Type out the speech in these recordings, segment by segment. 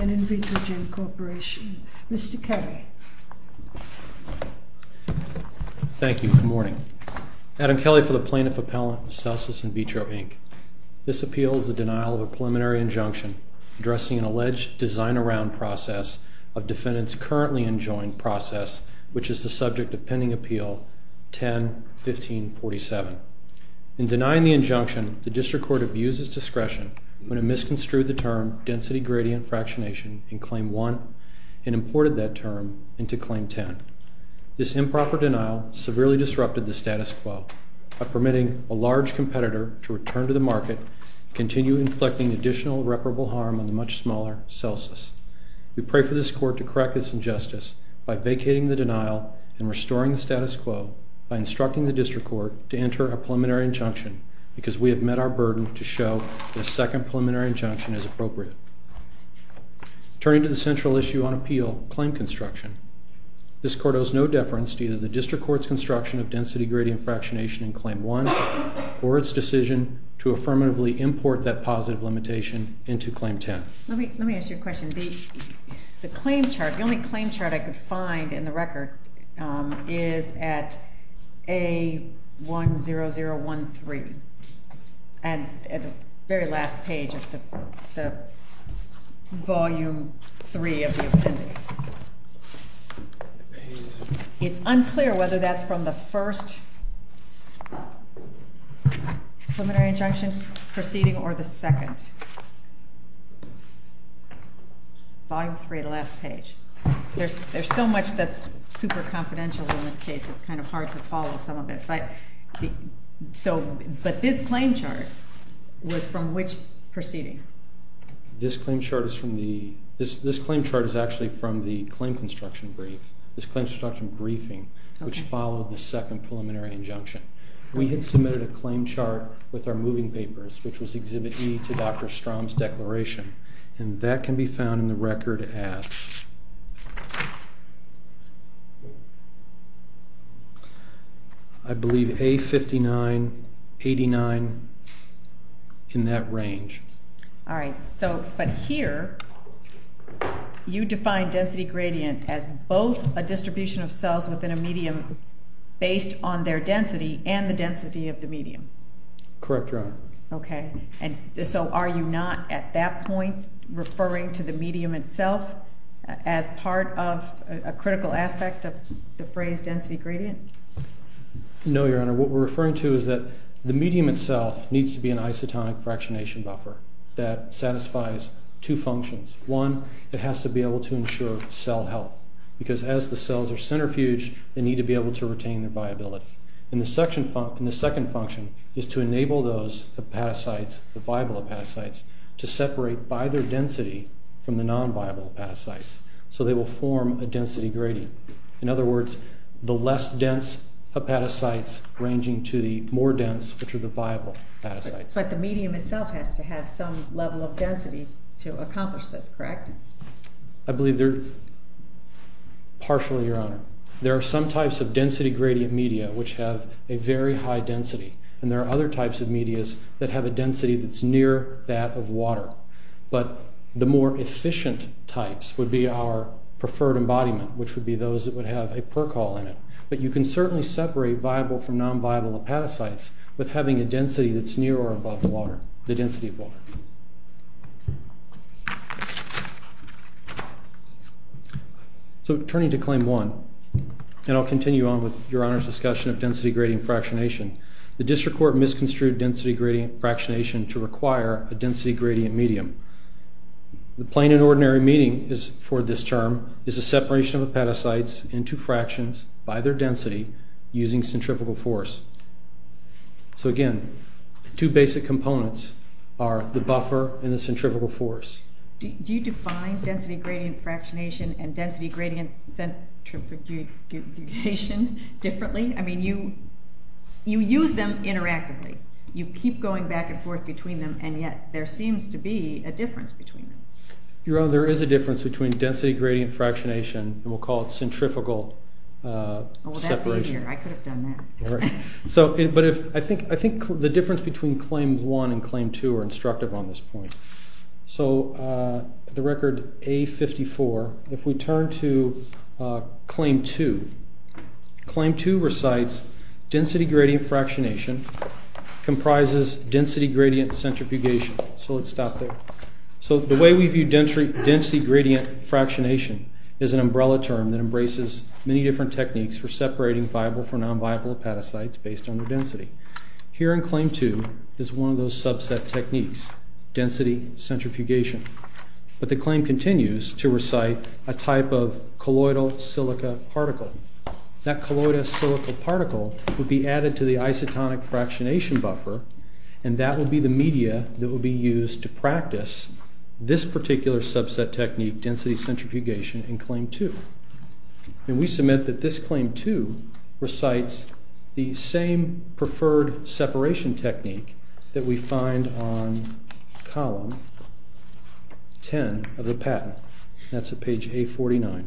and INVITROGEN Corporation. Mr. Kelly. Thank you. Good morning. Adam Kelly for the Plaintiff Appellant and CELSIS IN VITRO, Inc. This appeal is the denial of a preliminary injunction addressing an alleged design-around process of defendants' currently enjoined process, which is the subject of pending appeal 10-1547. In denying the injunction, the District Court abused its discretion when it misconstrued the term density gradient fractionation in Claim 1 and imported that term into Claim 10. This improper denial severely disrupted the status quo by permitting a large competitor to return to the market and continue inflicting additional reparable harm on the much smaller CELSIS. We pray for this Court to correct this injustice by vacating the denial and restoring the status quo by instructing the District Court to enter a preliminary injunction because we have met our burden to show the second preliminary injunction as appropriate. Turning to the central issue on appeal, claim construction, this Court owes no deference to either the District Court's construction of density gradient fractionation in Claim 1 or its decision to affirmatively import that positive limitation into Claim 10. Let me ask you a question. The claim chart, the only claim chart I could find in the record is at A10013 at the very last page of the Volume 3 of the appendix. It's unclear whether that's from the first preliminary injunction proceeding or the second. Volume 3, the last page. There's so much that's super confidential in this case, it's kind of hard to follow some of it. But this claim chart was from which proceeding? This claim chart is from the, this claim chart is actually from the claim construction brief, this claim construction briefing which followed the second preliminary injunction. We had submitted a claim chart with our moving papers which was Exhibit E to Dr. Strom's declaration and that can be found in the record at I believe A5989 in that range. All right. So, but here you define density gradient as both a distribution of cells within a medium based on their density and the density of the medium. Correct, Your Honor. Okay. And so are you not at that point referring to the medium itself as part of a critical aspect of the phrase density gradient? No, Your Honor. What we're referring to is that the medium itself needs to be an isotonic fractionation buffer that satisfies two functions. One, it has to be able to ensure cell health because as the cells are centrifuged, they need to be able to retain their viability. And the second function is to enable those hepatocytes, the viable hepatocytes, to separate by their density from the non-viable hepatocytes. So they will form a density gradient. In other words, the less dense hepatocytes ranging to the more dense which are the viable hepatocytes. But the medium itself has to have some level of density to accomplish this, correct? I believe they're partially, Your Honor. There are some types of density gradient media which have a very high density. And there are other types of medias that have a density that's near that of water. But the more efficient types would be our preferred embodiment, which would be those that would have a percol in it. But you can certainly separate viable from non-viable hepatocytes with having a density that's near or above the water, the density of water. So turning to Claim 1, and I'll continue on with Your Honor's discussion of density gradient fractionation, the District Court misconstrued density gradient fractionation to require a density gradient medium. The plain and ordinary meaning for this term is the separation of hepatocytes into fractions by their density using centrifugal force. So again, the two basic components are the buffer and the centrifugal force. Do you define density gradient fractionation and density gradient centrifugation differently? I mean, you use them interactively. You keep going back and forth between them, and yet there seems to be a difference between them. Your Honor, there is a difference between density gradient fractionation, and we'll call it centrifugal separation. Oh, that's easier. I could have done that. But I think the difference between Claim 1 and Claim 2 are instructive on this point. So the record A54, if we turn to Claim 2, Claim 2 recites density gradient fractionation comprises density gradient centrifugation. So let's stop there. So the way we view density gradient fractionation is an umbrella term that embraces many different techniques for separating viable for non-viable hepatocytes based on their density. Here in Claim 2 is one of those subset techniques, density centrifugation. But the claim continues to recite a type of colloidal silica particle. That colloidal silica particle would be added to the isotonic fractionation buffer, and that will be the media that will be used to practice this particular subset technique, density centrifugation, in Claim 2. And we submit that this Claim 2 recites the same preferred separation technique that we find on Column 10 of the patent. That's at page A49.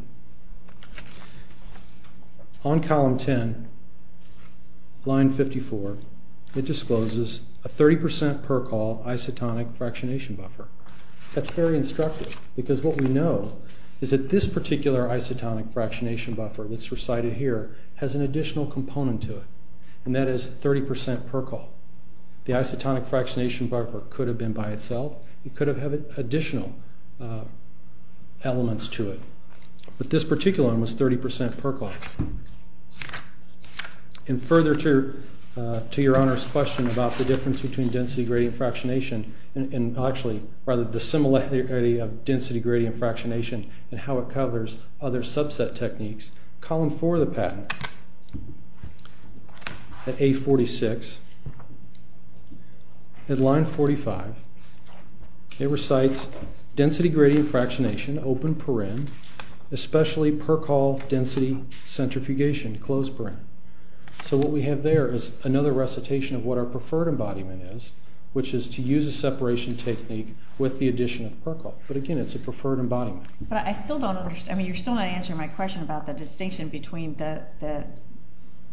On Column 10, Line 54, it discloses a 30% percol isotonic fractionation buffer. That's very instructive because what we know is that this particular isotonic fractionation buffer that's recited here has an additional component to it, and that is 30% percol. The isotonic fractionation buffer could have been by itself. It could have had additional elements to it. But this particular one was 30% percol. And further to your Honor's question about the difference between density gradient fractionation, and actually rather dissimilarity of density gradient fractionation and how it covers other subset techniques, Column 4 of the patent, at A46, at Line 45, it recites density gradient fractionation, open perin, especially percol density centrifugation, closed perin. So what we have there is another recitation of what our preferred embodiment is, which is to use a separation technique with the addition of percol. But again, it's a preferred embodiment. But I still don't understand, I mean you're still not answering my question about the distinction between the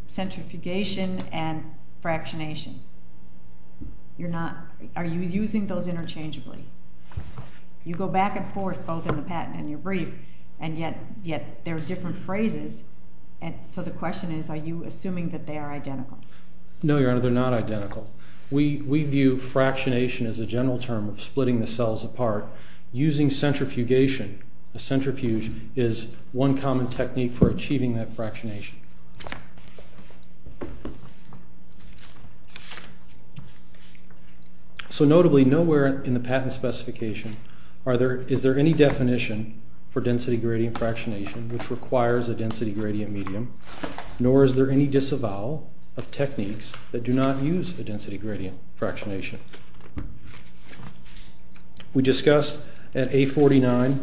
centrifugation and fractionation. You're not, are you using those interchangeably? You go back and forth both in the patent and your brief, and yet there are different phrases, and so the question is are you assuming that they are identical? No, Your Honor, they're not identical. We view fractionation as a general term of splitting the cells apart. Using centrifugation, a centrifuge, is one common technique for achieving that fractionation. So notably, nowhere in the patent specification is there any definition for density gradient fractionation, which requires a density gradient medium, nor is there any disavowal of techniques that do not use a density gradient fractionation. We discussed at A-49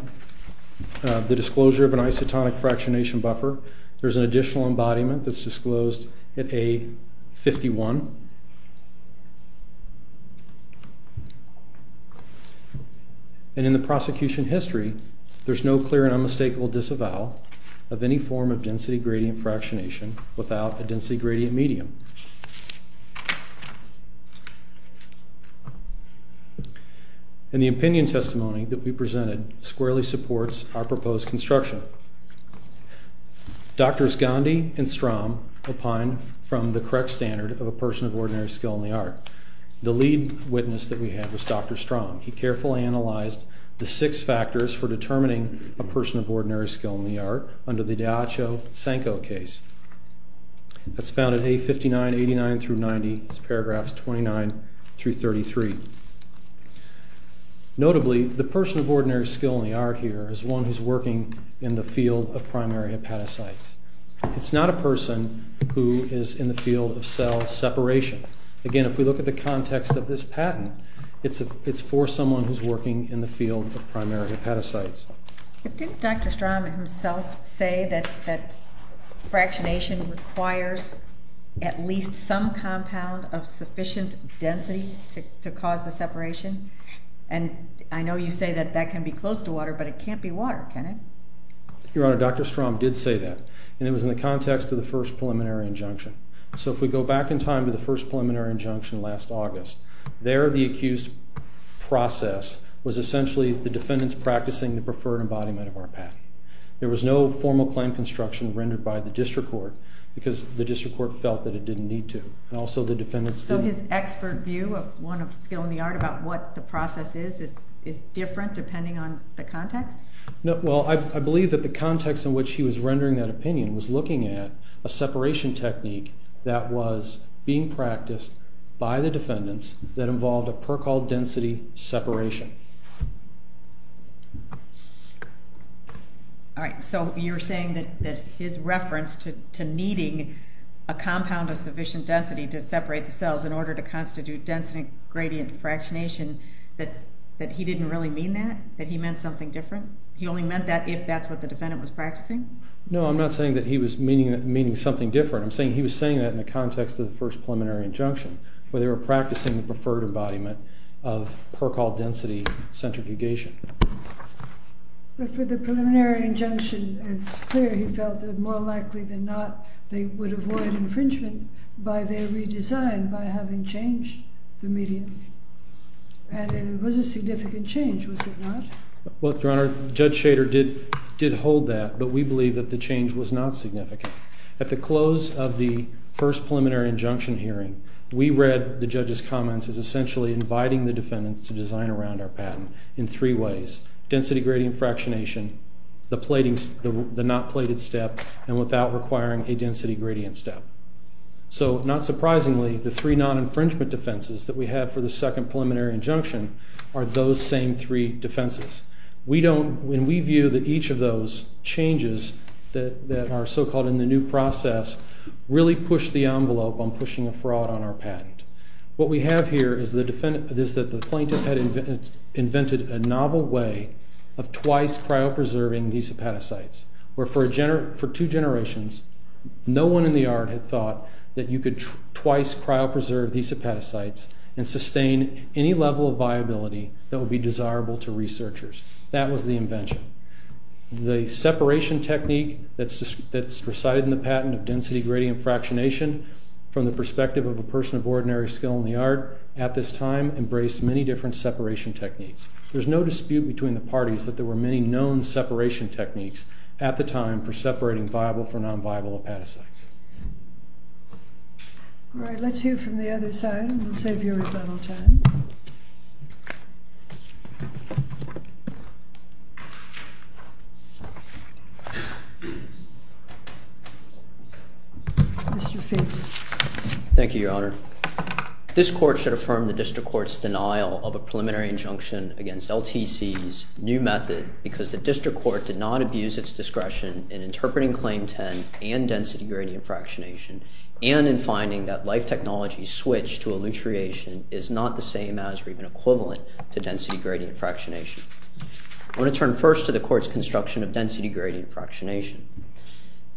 the disclosure of an isotonic fractionation buffer. There's an additional embodiment that's disclosed at A-51. And in the prosecution history, there's no clear and unmistakable disavowal of any form of density gradient fractionation without a density gradient medium. And the opinion testimony that we presented squarely supports our proposed construction. Drs. Gandhi and Strom opined from the correct standard of a person of ordinary skill in the art. The lead witness that we had was Dr. Strom. He carefully analyzed the six persons of ordinary skill in the art under the Diacho-Sanko case. That's found at A-59, 89-90, paragraphs 29-33. Notably, the person of ordinary skill in the art here is one who's working in the field of primary hepatocytes. It's not a person who is in the field of cell separation. Again, if we look at the context of this patent, it's for someone who's working in the field of primary hepatocytes. Didn't Dr. Strom himself say that fractionation requires at least some compound of sufficient density to cause the separation? And I know you say that that can be close to water, but it can't be water, can it? Your Honor, Dr. Strom did say that. And it was in the context of the first preliminary injunction. So if we go back in time to the first preliminary injunction last August, there the accused process was essentially the defendants practicing the preferred embodiment of our patent. There was no formal claim construction rendered by the district court, because the district court felt that it didn't need to. And also the defendants... So his expert view of one of skill in the art about what the process is, is different depending on the context? No, well I believe that the context in which he was rendering that opinion was looking at a separation technique that was being practiced by the defendants that involved a percol density separation. All right, so you're saying that his reference to needing a compound of sufficient density to separate the cells in order to constitute density gradient fractionation, that he didn't really mean that? That he meant something different? He only meant that if that's what the defendant was practicing? No, I'm not saying that he was meaning something different. I'm saying he was referring to the first preliminary injunction, where they were practicing the preferred embodiment of percol density centrifugation. But for the preliminary injunction, it's clear he felt that more likely than not, they would avoid infringement by their redesign, by having changed the medium. And it was a significant change, was it not? Well, Your Honor, Judge Shader did hold that, but we believe that the change was not significant. At the close of the first preliminary injunction hearing, we read the judge's comments as essentially inviting the defendants to design around our patent in three ways. Density gradient fractionation, the not plated step, and without requiring a density gradient step. So not surprisingly, the three non-infringement defenses that we have for the second preliminary injunction are those same three defenses. We don't, when we view that each of those changes that are so-called in the new process, really push the envelope on pushing a fraud on our patent. What we have here is that the plaintiff had invented a novel way of twice cryopreserving these hepatocytes, where for two generations, no one in the yard had thought that you could twice cryopreserve these hepatocytes and sustain any level of viability that would be desirable to researchers. That was the invention. The separation technique that's presided in the patent of density gradient fractionation from the perspective of a person of ordinary skill in the yard at this time embraced many different separation techniques. There's no dispute between the parties that there were many known separation techniques at the time for separating viable for non-viable hepatocytes. All right, let's hear from the other side and we'll save your rebuttal time. Mr. Fitts. Thank you, Your Honor. This court should affirm the district court's denial of a preliminary injunction against LTC's new method because the district court did not abuse its discretion in interpreting Claim 10 and density gradient fractionation and in finding that life technology switch to alliteration is not the same as or even equivalent to density gradient fractionation. I want to turn first to the court's construction of density gradient fractionation.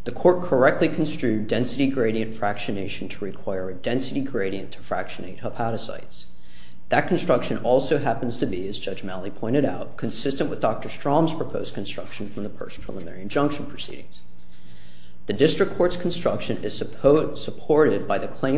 The court correctly construed density gradient fractionation to require a density gradient to fractionate hepatocytes. That construction also happens to be, as Judge Malley pointed out, consistent with Dr. Strom's proposed construction from the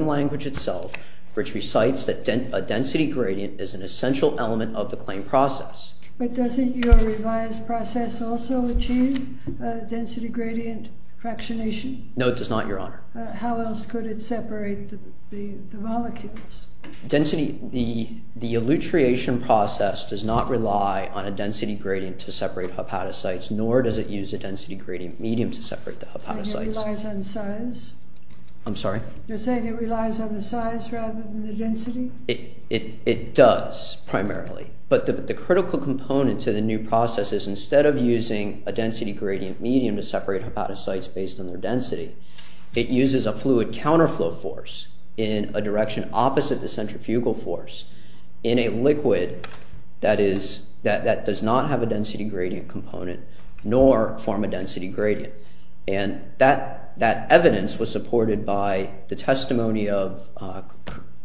language itself, which recites that a density gradient is an essential element of the claim process. But doesn't your revised process also achieve a density gradient fractionation? No, it does not, Your Honor. How else could it separate the molecules? The alliteration process does not rely on a density gradient to separate hepatocytes, nor does it use a density gradient medium to separate the hepatocytes. You're saying it relies on size? I'm sorry? You're saying it relies on the size rather than the density? It does, primarily. But the critical component to the new process is instead of using a density gradient medium to separate hepatocytes based on their density, it uses a fluid counterflow force in a direction opposite the centrifugal force in a liquid that does not have a density gradient component, nor form a density gradient. And that evidence was supported by the testimony of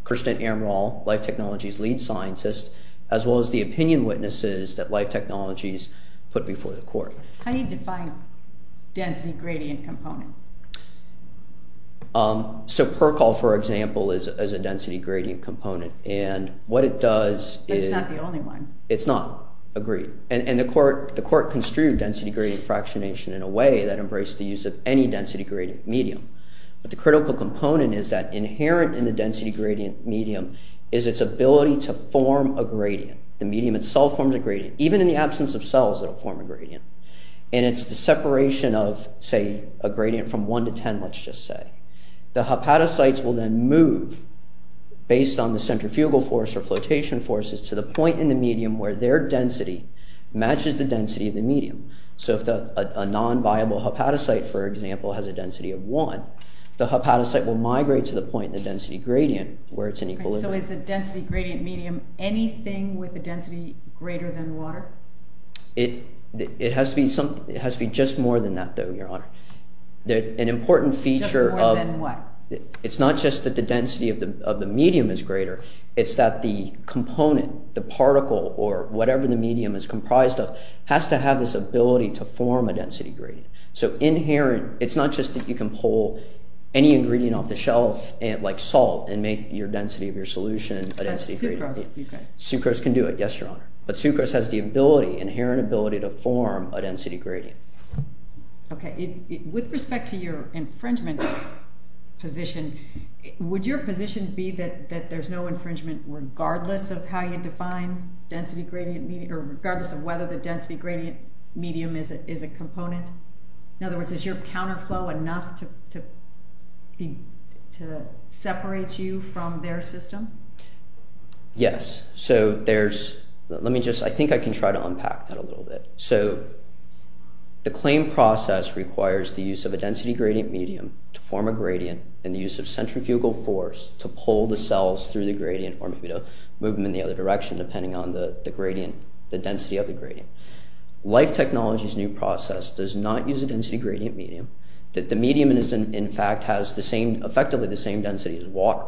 Kirsten Amrall, Life Technologies lead scientist, as well as the opinion witnesses that Life Technologies put before the court. How do you define density gradient component? So percol, for example, is a density gradient component. But it's not the only one. It's not, agreed. And the court construed density gradient fractionation in a way that embraced the use of any density gradient medium. But the critical component is that inherent in the density gradient medium is its ability to form a gradient. The medium itself forms a gradient. Even in the absence of cells, it'll form a gradient. And it's the separation of, say, a gradient from 1 to 10, let's just say. The hepatocytes will then move based on the centrifugal force or flotation forces to the point in the medium where their density matches the density of the medium. So if a non-viable hepatocyte, for example, has a density of 1, the hepatocyte will migrate to the point in the density gradient where it's in equilibrium. So is the density gradient medium anything with a density greater than water? It has to be just more than that, though, Your Honor. An important feature of... Just more than what? It's not just that the density of the medium is greater. It's that the component, the particle, or whatever the medium is comprised of, has to have this ability to form a density gradient. So inherent... It's not just that you can pull any ingredient off the shelf, like salt, and make your density of your solution a density gradient. Sucrose, okay. Sucrose can do it, yes, Your Honor. But sucrose has the ability, inherent ability, to form a density gradient. Okay. With respect to your infringement position, would your position be that there's no infringement regardless of how you define density gradient medium, or regardless of whether the density gradient medium is a component? In other words, is your counterflow enough to separate you from their system? Yes. So there's... Let me just... I think I can try to unpack that a little bit. So the claim process requires the use of a density gradient medium to form a gradient, and the use of centrifugal force to pull the cells through the gradient, or maybe to move them in the other direction, depending on the gradient, the density of the gradient. Life Technologies' new process does not use a density gradient medium. That the medium is, in fact, has the same... Effectively the same density as water,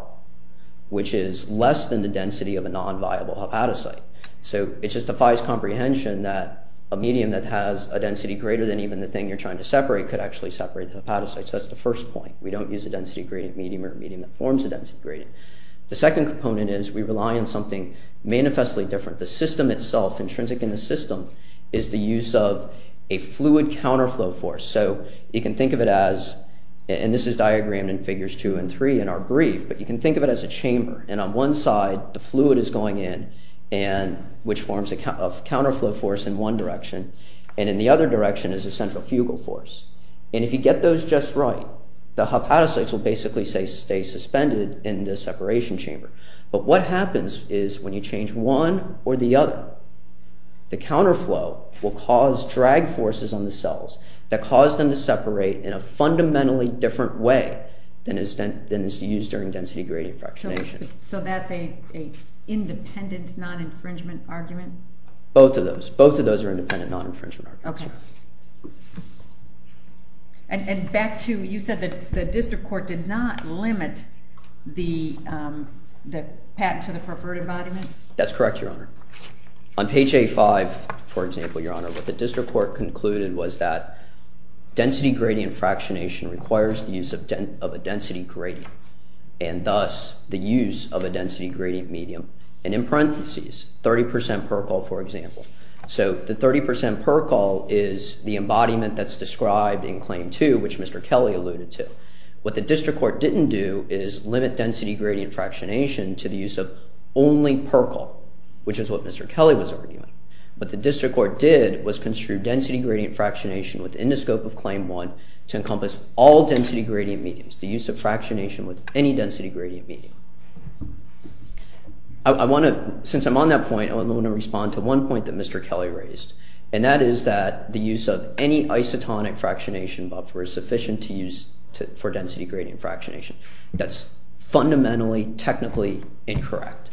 which is less than the density of a non-viable hepatocyte. So it just defies comprehension that a medium that has a density greater than even the thing you're trying to separate could actually separate the hepatocyte. So that's the first point. We don't use a density gradient medium or a medium that forms a density gradient. The second component is we rely on something manifestly different. The system itself, intrinsic in the system, is the use of a fluid counterflow force. So you can think of it as... And this is diagrammed in Figures 2 and 3 in our brief, but you can think of it as a chamber. And on one side, the fluid is going in, which forms a counterflow force in one direction, and in the other direction is a centrifugal force. And if you get those just right, the hepatocytes will basically stay suspended in the separation chamber. But what happens is when you change one or the other, the counterflow will cause drag forces on the cells that cause them to separate in a fundamentally different way than is used during density gradient fractionation. So that's an independent non-infringement argument? Both of those. Both of those are independent non-infringement arguments. Okay. And back to, you said that the district court did not limit the patent to the perverted embodiment? That's correct, Your Honor. On page A5, for example, Your Honor, what the district court concluded was that density gradient fractionation requires the use of a density gradient, and thus the use of a density gradient medium. And in parentheses, 30 percent percol, for example. So the 30 percent percol is the embodiment that's described in Claim 2, which Mr. Kelly alluded to. What the district court didn't do is limit density gradient fractionation to the use of only percol, which is what Mr. Kelly was arguing. What the district court did was construe density gradient fractionation within the scope of Claim 1 to encompass all density gradient mediums, the use of fractionation with any density gradient medium. Since I'm on that point, I want to respond to one point that Mr. Kelly raised, and that is that the use of any isotonic fractionation buffer is sufficient to use for density gradient fractionation. That's fundamentally technically incorrect.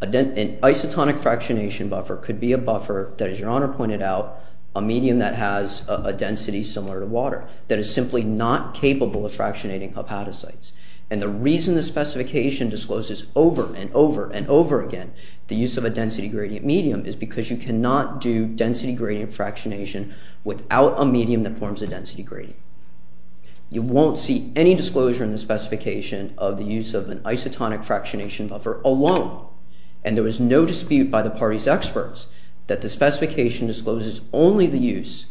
An isotonic fractionation buffer could be a buffer that, as Your Honor pointed out, a medium that has a density similar to water, that is simply not capable of fractionating hepatocytes. And the reason the specification discloses over and over and over again the use of a density gradient medium is because you cannot do density gradient fractionation without a medium that forms a density gradient. You won't see any disclosure in the specification of the use of an isotonic fractionation buffer alone. And there was no dispute by the party's experts that the specification discloses only the use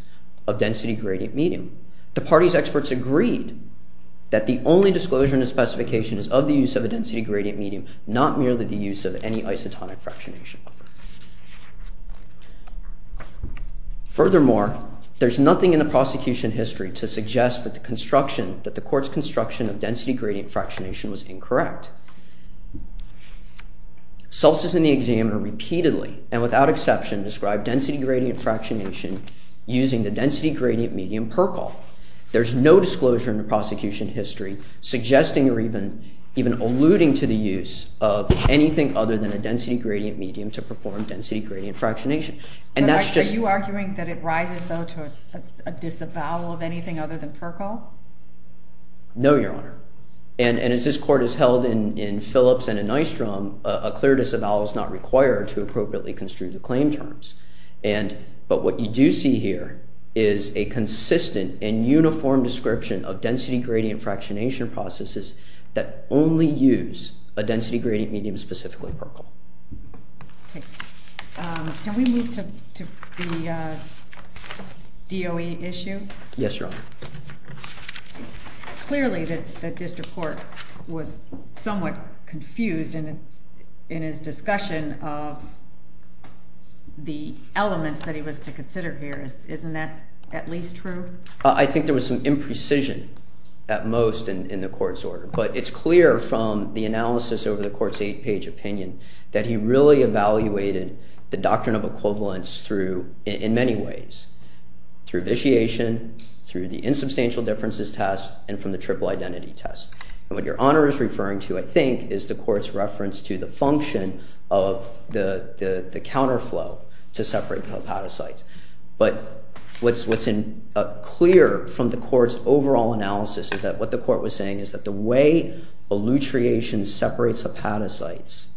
of density gradient medium. The party's experts agreed that the only disclosure in the specification is of the use of a density gradient medium, not merely the use of any isotonic fractionation buffer. Furthermore, there's nothing in the prosecution history to suggest that the construction, that the court's construction of density gradient fractionation was incorrect. Solstice and the examiner repeatedly, and without exception, described density gradient fractionation using the density gradient medium percol. There's no disclosure in the prosecution history suggesting or even alluding to the use of anything other than a density gradient medium to perform density gradient fractionation. And that's just- Are you arguing that it rises, though, to a disavowal of anything other than percol? No, Your Honor. And as this court has held in Phillips and in Nystrom, a clear disavowal is not required to appropriately construe the claim terms. But what you do see here is a consistent and uniform description of density gradient fractionation processes that only use a density gradient medium specifically percol. Okay. Can we move to the DOE issue? Yes, Your Honor. Clearly, the district court was somewhat confused in its discussion of the elements that he was to consider here. Isn't that at least true? I think there was some imprecision at most in the court's order. But it's clear from the analysis over the court's eight-page opinion that he really evaluated the doctrine of equivalence through, in many ways, through vitiation, through the insubstantial differences test, and from the triple identity test. And what Your Honor is referring to, I think, is the court's reference to the function of the counterflow to separate the hepatocytes. But what's clear from the court's overall analysis is that what the court was saying is that the way elutriation separates hepatocytes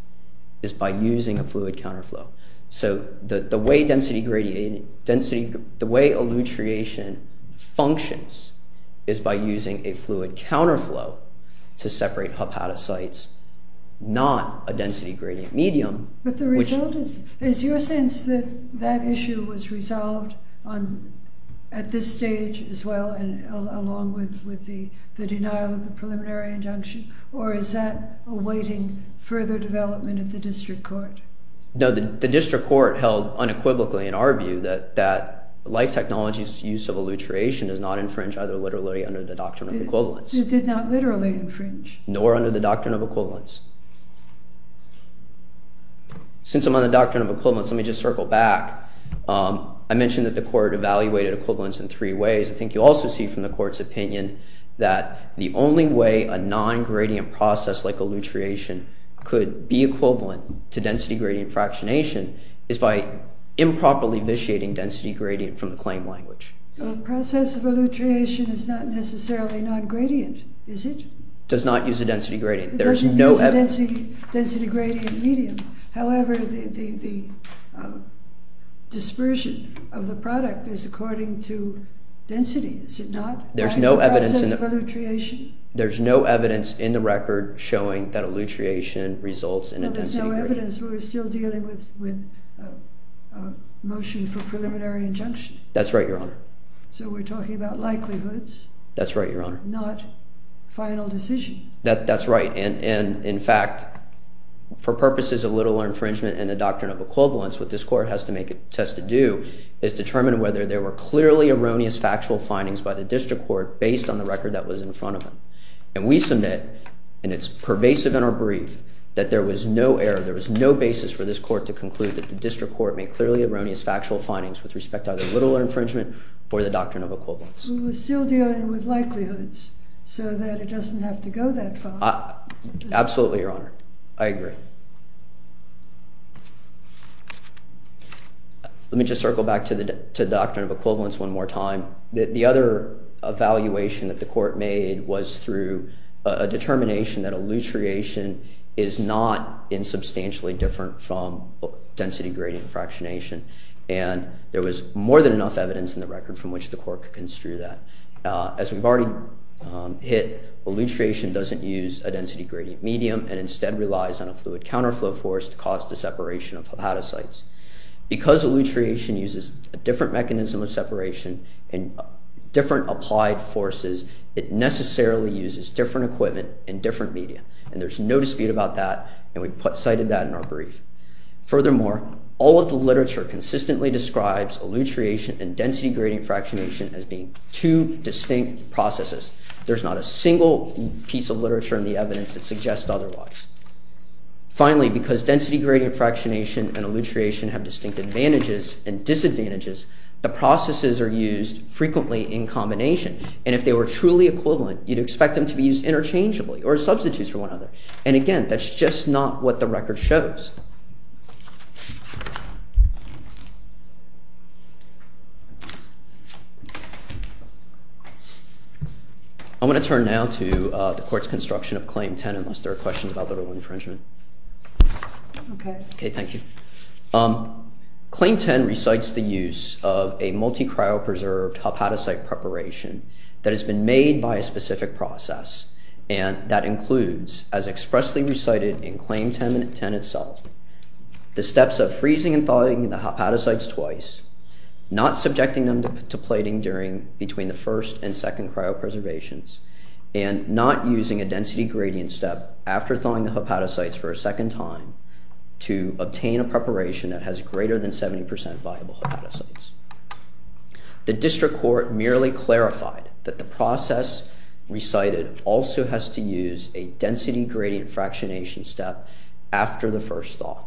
is by using a fluid counterflow. So the way elutriation functions is by using a fluid counterflow to separate hepatocytes, not a density gradient medium. But the result is, is your sense that that issue was resolved at this stage as well, and along with the denial of the preliminary injunction, or is that awaiting further development at the district court? No, the district court held unequivocally in our view that life technology's use of elutriation does not infringe either literally under the doctrine of equivalence. It did not literally infringe. Nor under the doctrine of equivalence. Since I'm on the doctrine of equivalence, let me just circle back. I mentioned that the court evaluated equivalence in three ways. I think you also see from the court's opinion that the only way a non-gradient process like equivalent to density gradient fractionation is by improperly vitiating density gradient from the claim language. A process of elutriation is not necessarily non-gradient, is it? Does not use a density gradient. It doesn't use a density gradient medium. However, the dispersion of the product is according to density, is it not? There's no evidence in the record showing that elutriation results in a density gradient. There's no evidence. We're still dealing with a motion for preliminary injunction. That's right, Your Honor. So we're talking about likelihoods. That's right, Your Honor. Not final decision. That's right. And in fact, for purposes of literal infringement and the doctrine of equivalence, what this court has to make a test to do is determine whether there were clearly erroneous factual findings by the district court based on the record that was in front of them. And we submit, and it's pervasive in our brief, that there was no error. There was no basis for this court to conclude that the district court made clearly erroneous factual findings with respect to either literal infringement or the doctrine of equivalence. We're still dealing with likelihoods so that it doesn't have to go that far. Absolutely, Your Honor. I agree. Let me just circle back to the doctrine of equivalence one more time. The other evaluation that the court made was through a determination that allutriation is not insubstantially different from density gradient fractionation. And there was more than enough evidence in the record from which the court could construe that. As we've already hit, allutriation doesn't use a density gradient medium and instead relies on a fluid counterflow force to cause the separation of hepatocytes. Because allutriation uses a different mechanism of separation and different applied forces, it necessarily uses different equipment and different media. And there's no dispute about that. And we cited that in our brief. Furthermore, all of the literature consistently describes allutriation and density gradient fractionation as being two distinct processes. There's not a single piece of literature in the evidence that suggests otherwise. Finally, because density gradient fractionation and allutriation have distinct advantages and disadvantages, the processes are used frequently in combination. And if they were truly equivalent, you'd expect them to be used interchangeably or substitutes for one another. And again, that's just not what the record shows. I'm going to turn now to the court's construction of Claim 10, unless there are questions about infringement. Okay. Okay, thank you. Claim 10 recites the use of a multi-cryopreserved hepatocyte preparation that has been made by a specific process. And that includes, as expressly recited in Claim 10 itself, the steps of freezing and thawing the hepatocytes twice, not subjecting them to plating during between the first and the hepatocytes for a second time, to obtain a preparation that has greater than 70% viable hepatocytes. The district court merely clarified that the process recited also has to use a density gradient fractionation step after the first thaw.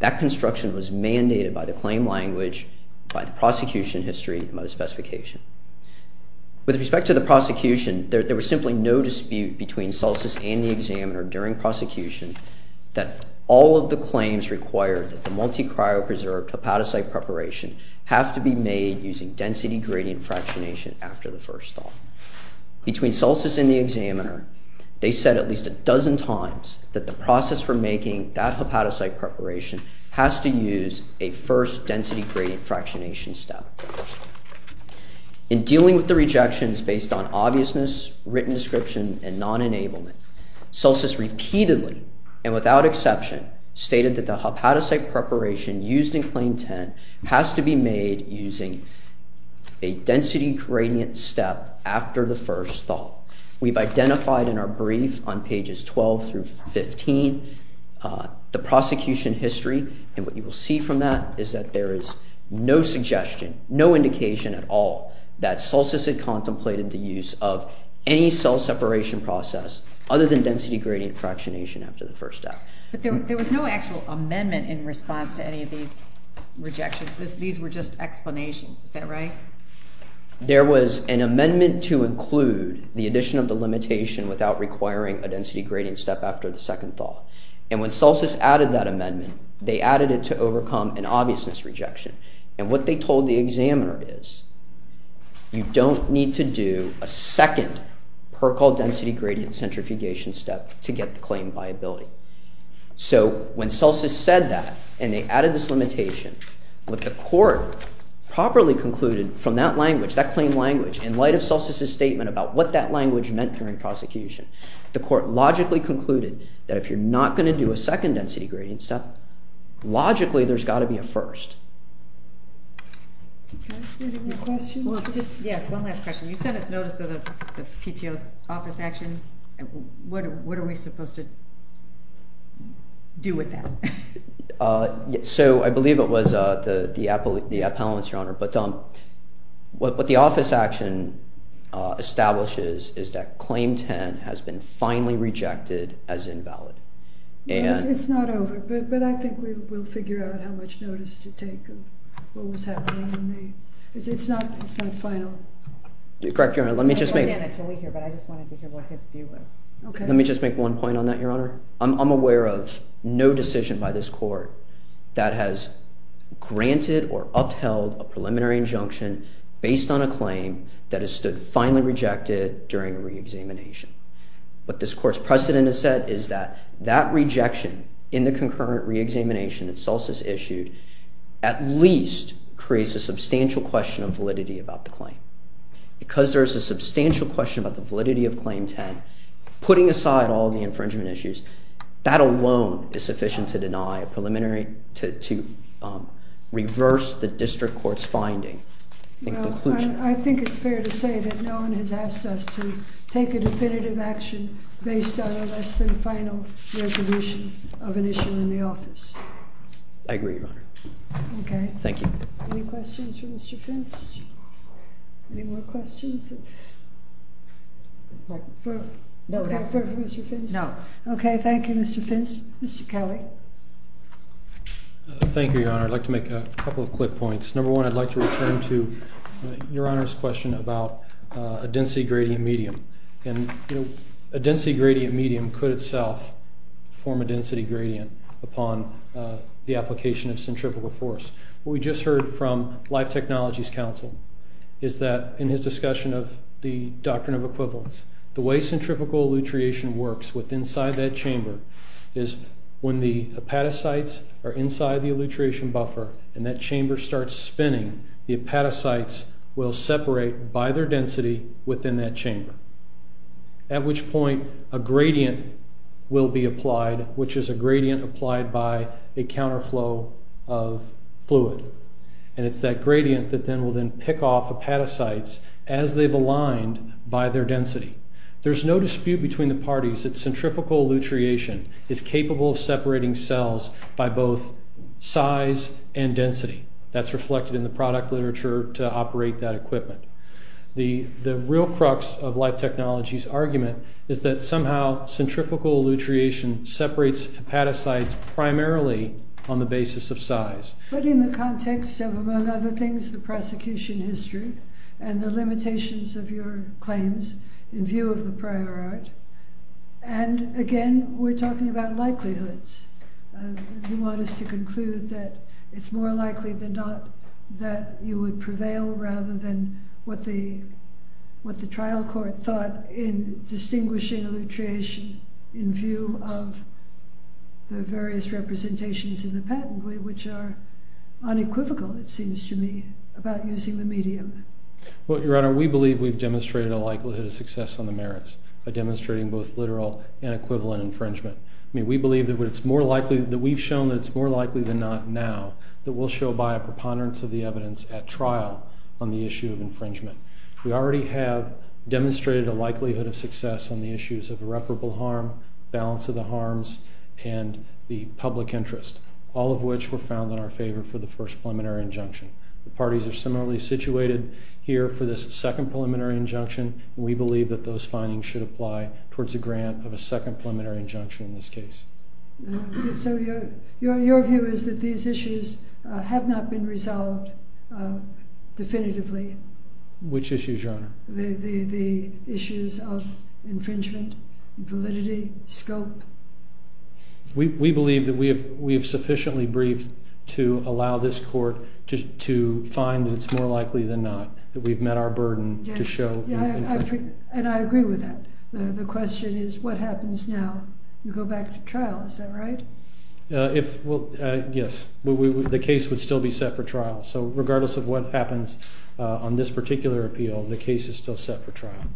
That construction was mandated by the claim language, by the prosecution history, and by the specification. With respect to the prosecution, there was simply no dispute between CELCIS and the examiner during prosecution that all of the claims required that the multi-cryopreserved hepatocyte preparation have to be made using density gradient fractionation after the first thaw. Between CELCIS and the examiner, they said at least a dozen times that the process for making that hepatocyte preparation has to use a first density gradient fractionation step. In dealing with the rejections based on obviousness, written description, and non-enablement, CELCIS repeatedly, and without exception, stated that the hepatocyte preparation used in Claim 10 has to be made using a density gradient step after the first thaw. We've identified in our brief on pages 12 through 15 the prosecution history, and what you will see from that is that there is no suggestion, no indication at all, that CELCIS had contemplated the use of any cell separation process other than density gradient fractionation after the first thaw. But there was no actual amendment in response to any of these rejections. These were just explanations. Is that right? There was an amendment to include the addition of the limitation without requiring a density gradient step after the second thaw. And when CELCIS added that amendment, they added it to overcome an obviousness rejection. And what they told the examiner is, you don't need to do a second PERCOL density gradient centrifugation step to get the claim viability. So when CELCIS said that, and they added this limitation, what the court properly concluded from that language, that claim language, in light of CELCIS' statement about what that language meant during prosecution, the court logically concluded that if you're not going to do a second density gradient step, logically there's got to be a first. Do you have any more questions? Yes, one last question. You sent us notice of the PTO's office action. What are we supposed to do with that? So I believe it was the appellants, Your Honor. But what the office action establishes is that claim 10 has been finally rejected as invalid. It's not over. But I think we will figure out how much notice to take of what was happening. It's not final. Correct, Your Honor. Let me just make one point on that, Your Honor. I'm aware of no decision by this court that has granted or upheld a preliminary injunction based on a claim that has stood finally rejected during re-examination. What this court's precedent has said is that that rejection in the concurrent re-examination that CELCIS issued at least creates a substantial question of validity about the claim. Because there is a substantial question about the validity of claim 10, putting aside all the infringement issues, that alone is sufficient to reverse the district court's finding. Well, I think it's fair to say that no one has asked us to take a definitive action based on a less than final resolution of an issue in the office. I agree, Your Honor. Okay. Thank you. Any questions for Mr. Fintz? Any more questions? No. Okay. Thank you, Mr. Fintz. Mr. Kelly. Thank you, Your Honor. I'd like to make a couple of quick points. Number one, I'd like to return to Your Honor's question about a density gradient medium. And a density gradient medium could itself form a density gradient upon the application of centripetal force. What we just heard from Life Technologies Council is that in his discussion of the doctrine of equivalence, the way centripetal elutriation works with inside that chamber is when the epatocytes will separate by their density within that chamber, at which point a gradient will be applied, which is a gradient applied by a counterflow of fluid. And it's that gradient that will then pick off epatocytes as they've aligned by their density. There's no dispute between the parties that centripetal elutriation is capable of separating cells by both size and density. That's reflected in the product literature to operate that equipment. The real crux of Life Technologies' argument is that somehow centrifugal elutriation separates epatocytes primarily on the basis of size. But in the context of, among other things, the prosecution history and the limitations of your claims in view of the prior art. And again, we're talking about likelihoods. You want us to conclude that it's more likely than not that you would prevail rather than what the trial court thought in distinguishing elutriation in view of the various representations in the patent, which are unequivocal, it seems to me, about using the medium. Well, Your Honor, we believe we've demonstrated a likelihood of success on the merits by demonstrating both literal and equivalent infringement. We believe that we've shown that it's more likely than not now that we'll show by a preponderance of the evidence at trial on the issue of infringement. We already have demonstrated a likelihood of success on the issues of irreparable harm, balance of the harms, and the public interest, all of which were found in our favor for the first preliminary injunction. The parties are similarly situated here for this second preliminary injunction. We believe that those findings should apply towards a grant of a second preliminary injunction in this case. So your view is that these issues have not been resolved definitively? Which issues, Your Honor? The issues of infringement, validity, scope. We believe that we have sufficiently briefed to allow this court to find that it's more likely than not that we've met our burden to show infringement. And I agree with that. The question is, what happens now? You go back to trial, is that right? Yes. The case would still be set for trial. So regardless of what happens on this particular appeal, the case is still set for trial.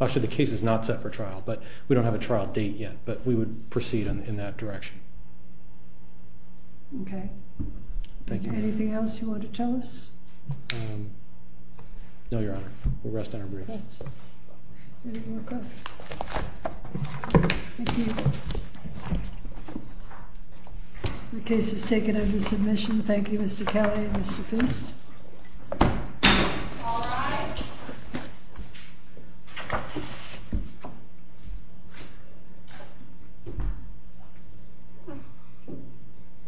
Actually, the case is not set for trial. But we don't have a trial date yet. But we would proceed in that direction. OK. Anything else you want to tell us? No, Your Honor. We'll rest on our briefs. Questions? Any more questions? Thank you. The case is taken under submission. Thank you, Mr. Kelly and Mr. Fist. All rise.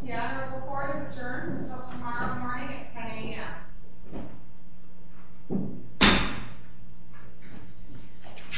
The ad hoc report is adjourned until tomorrow morning at 10 a.m.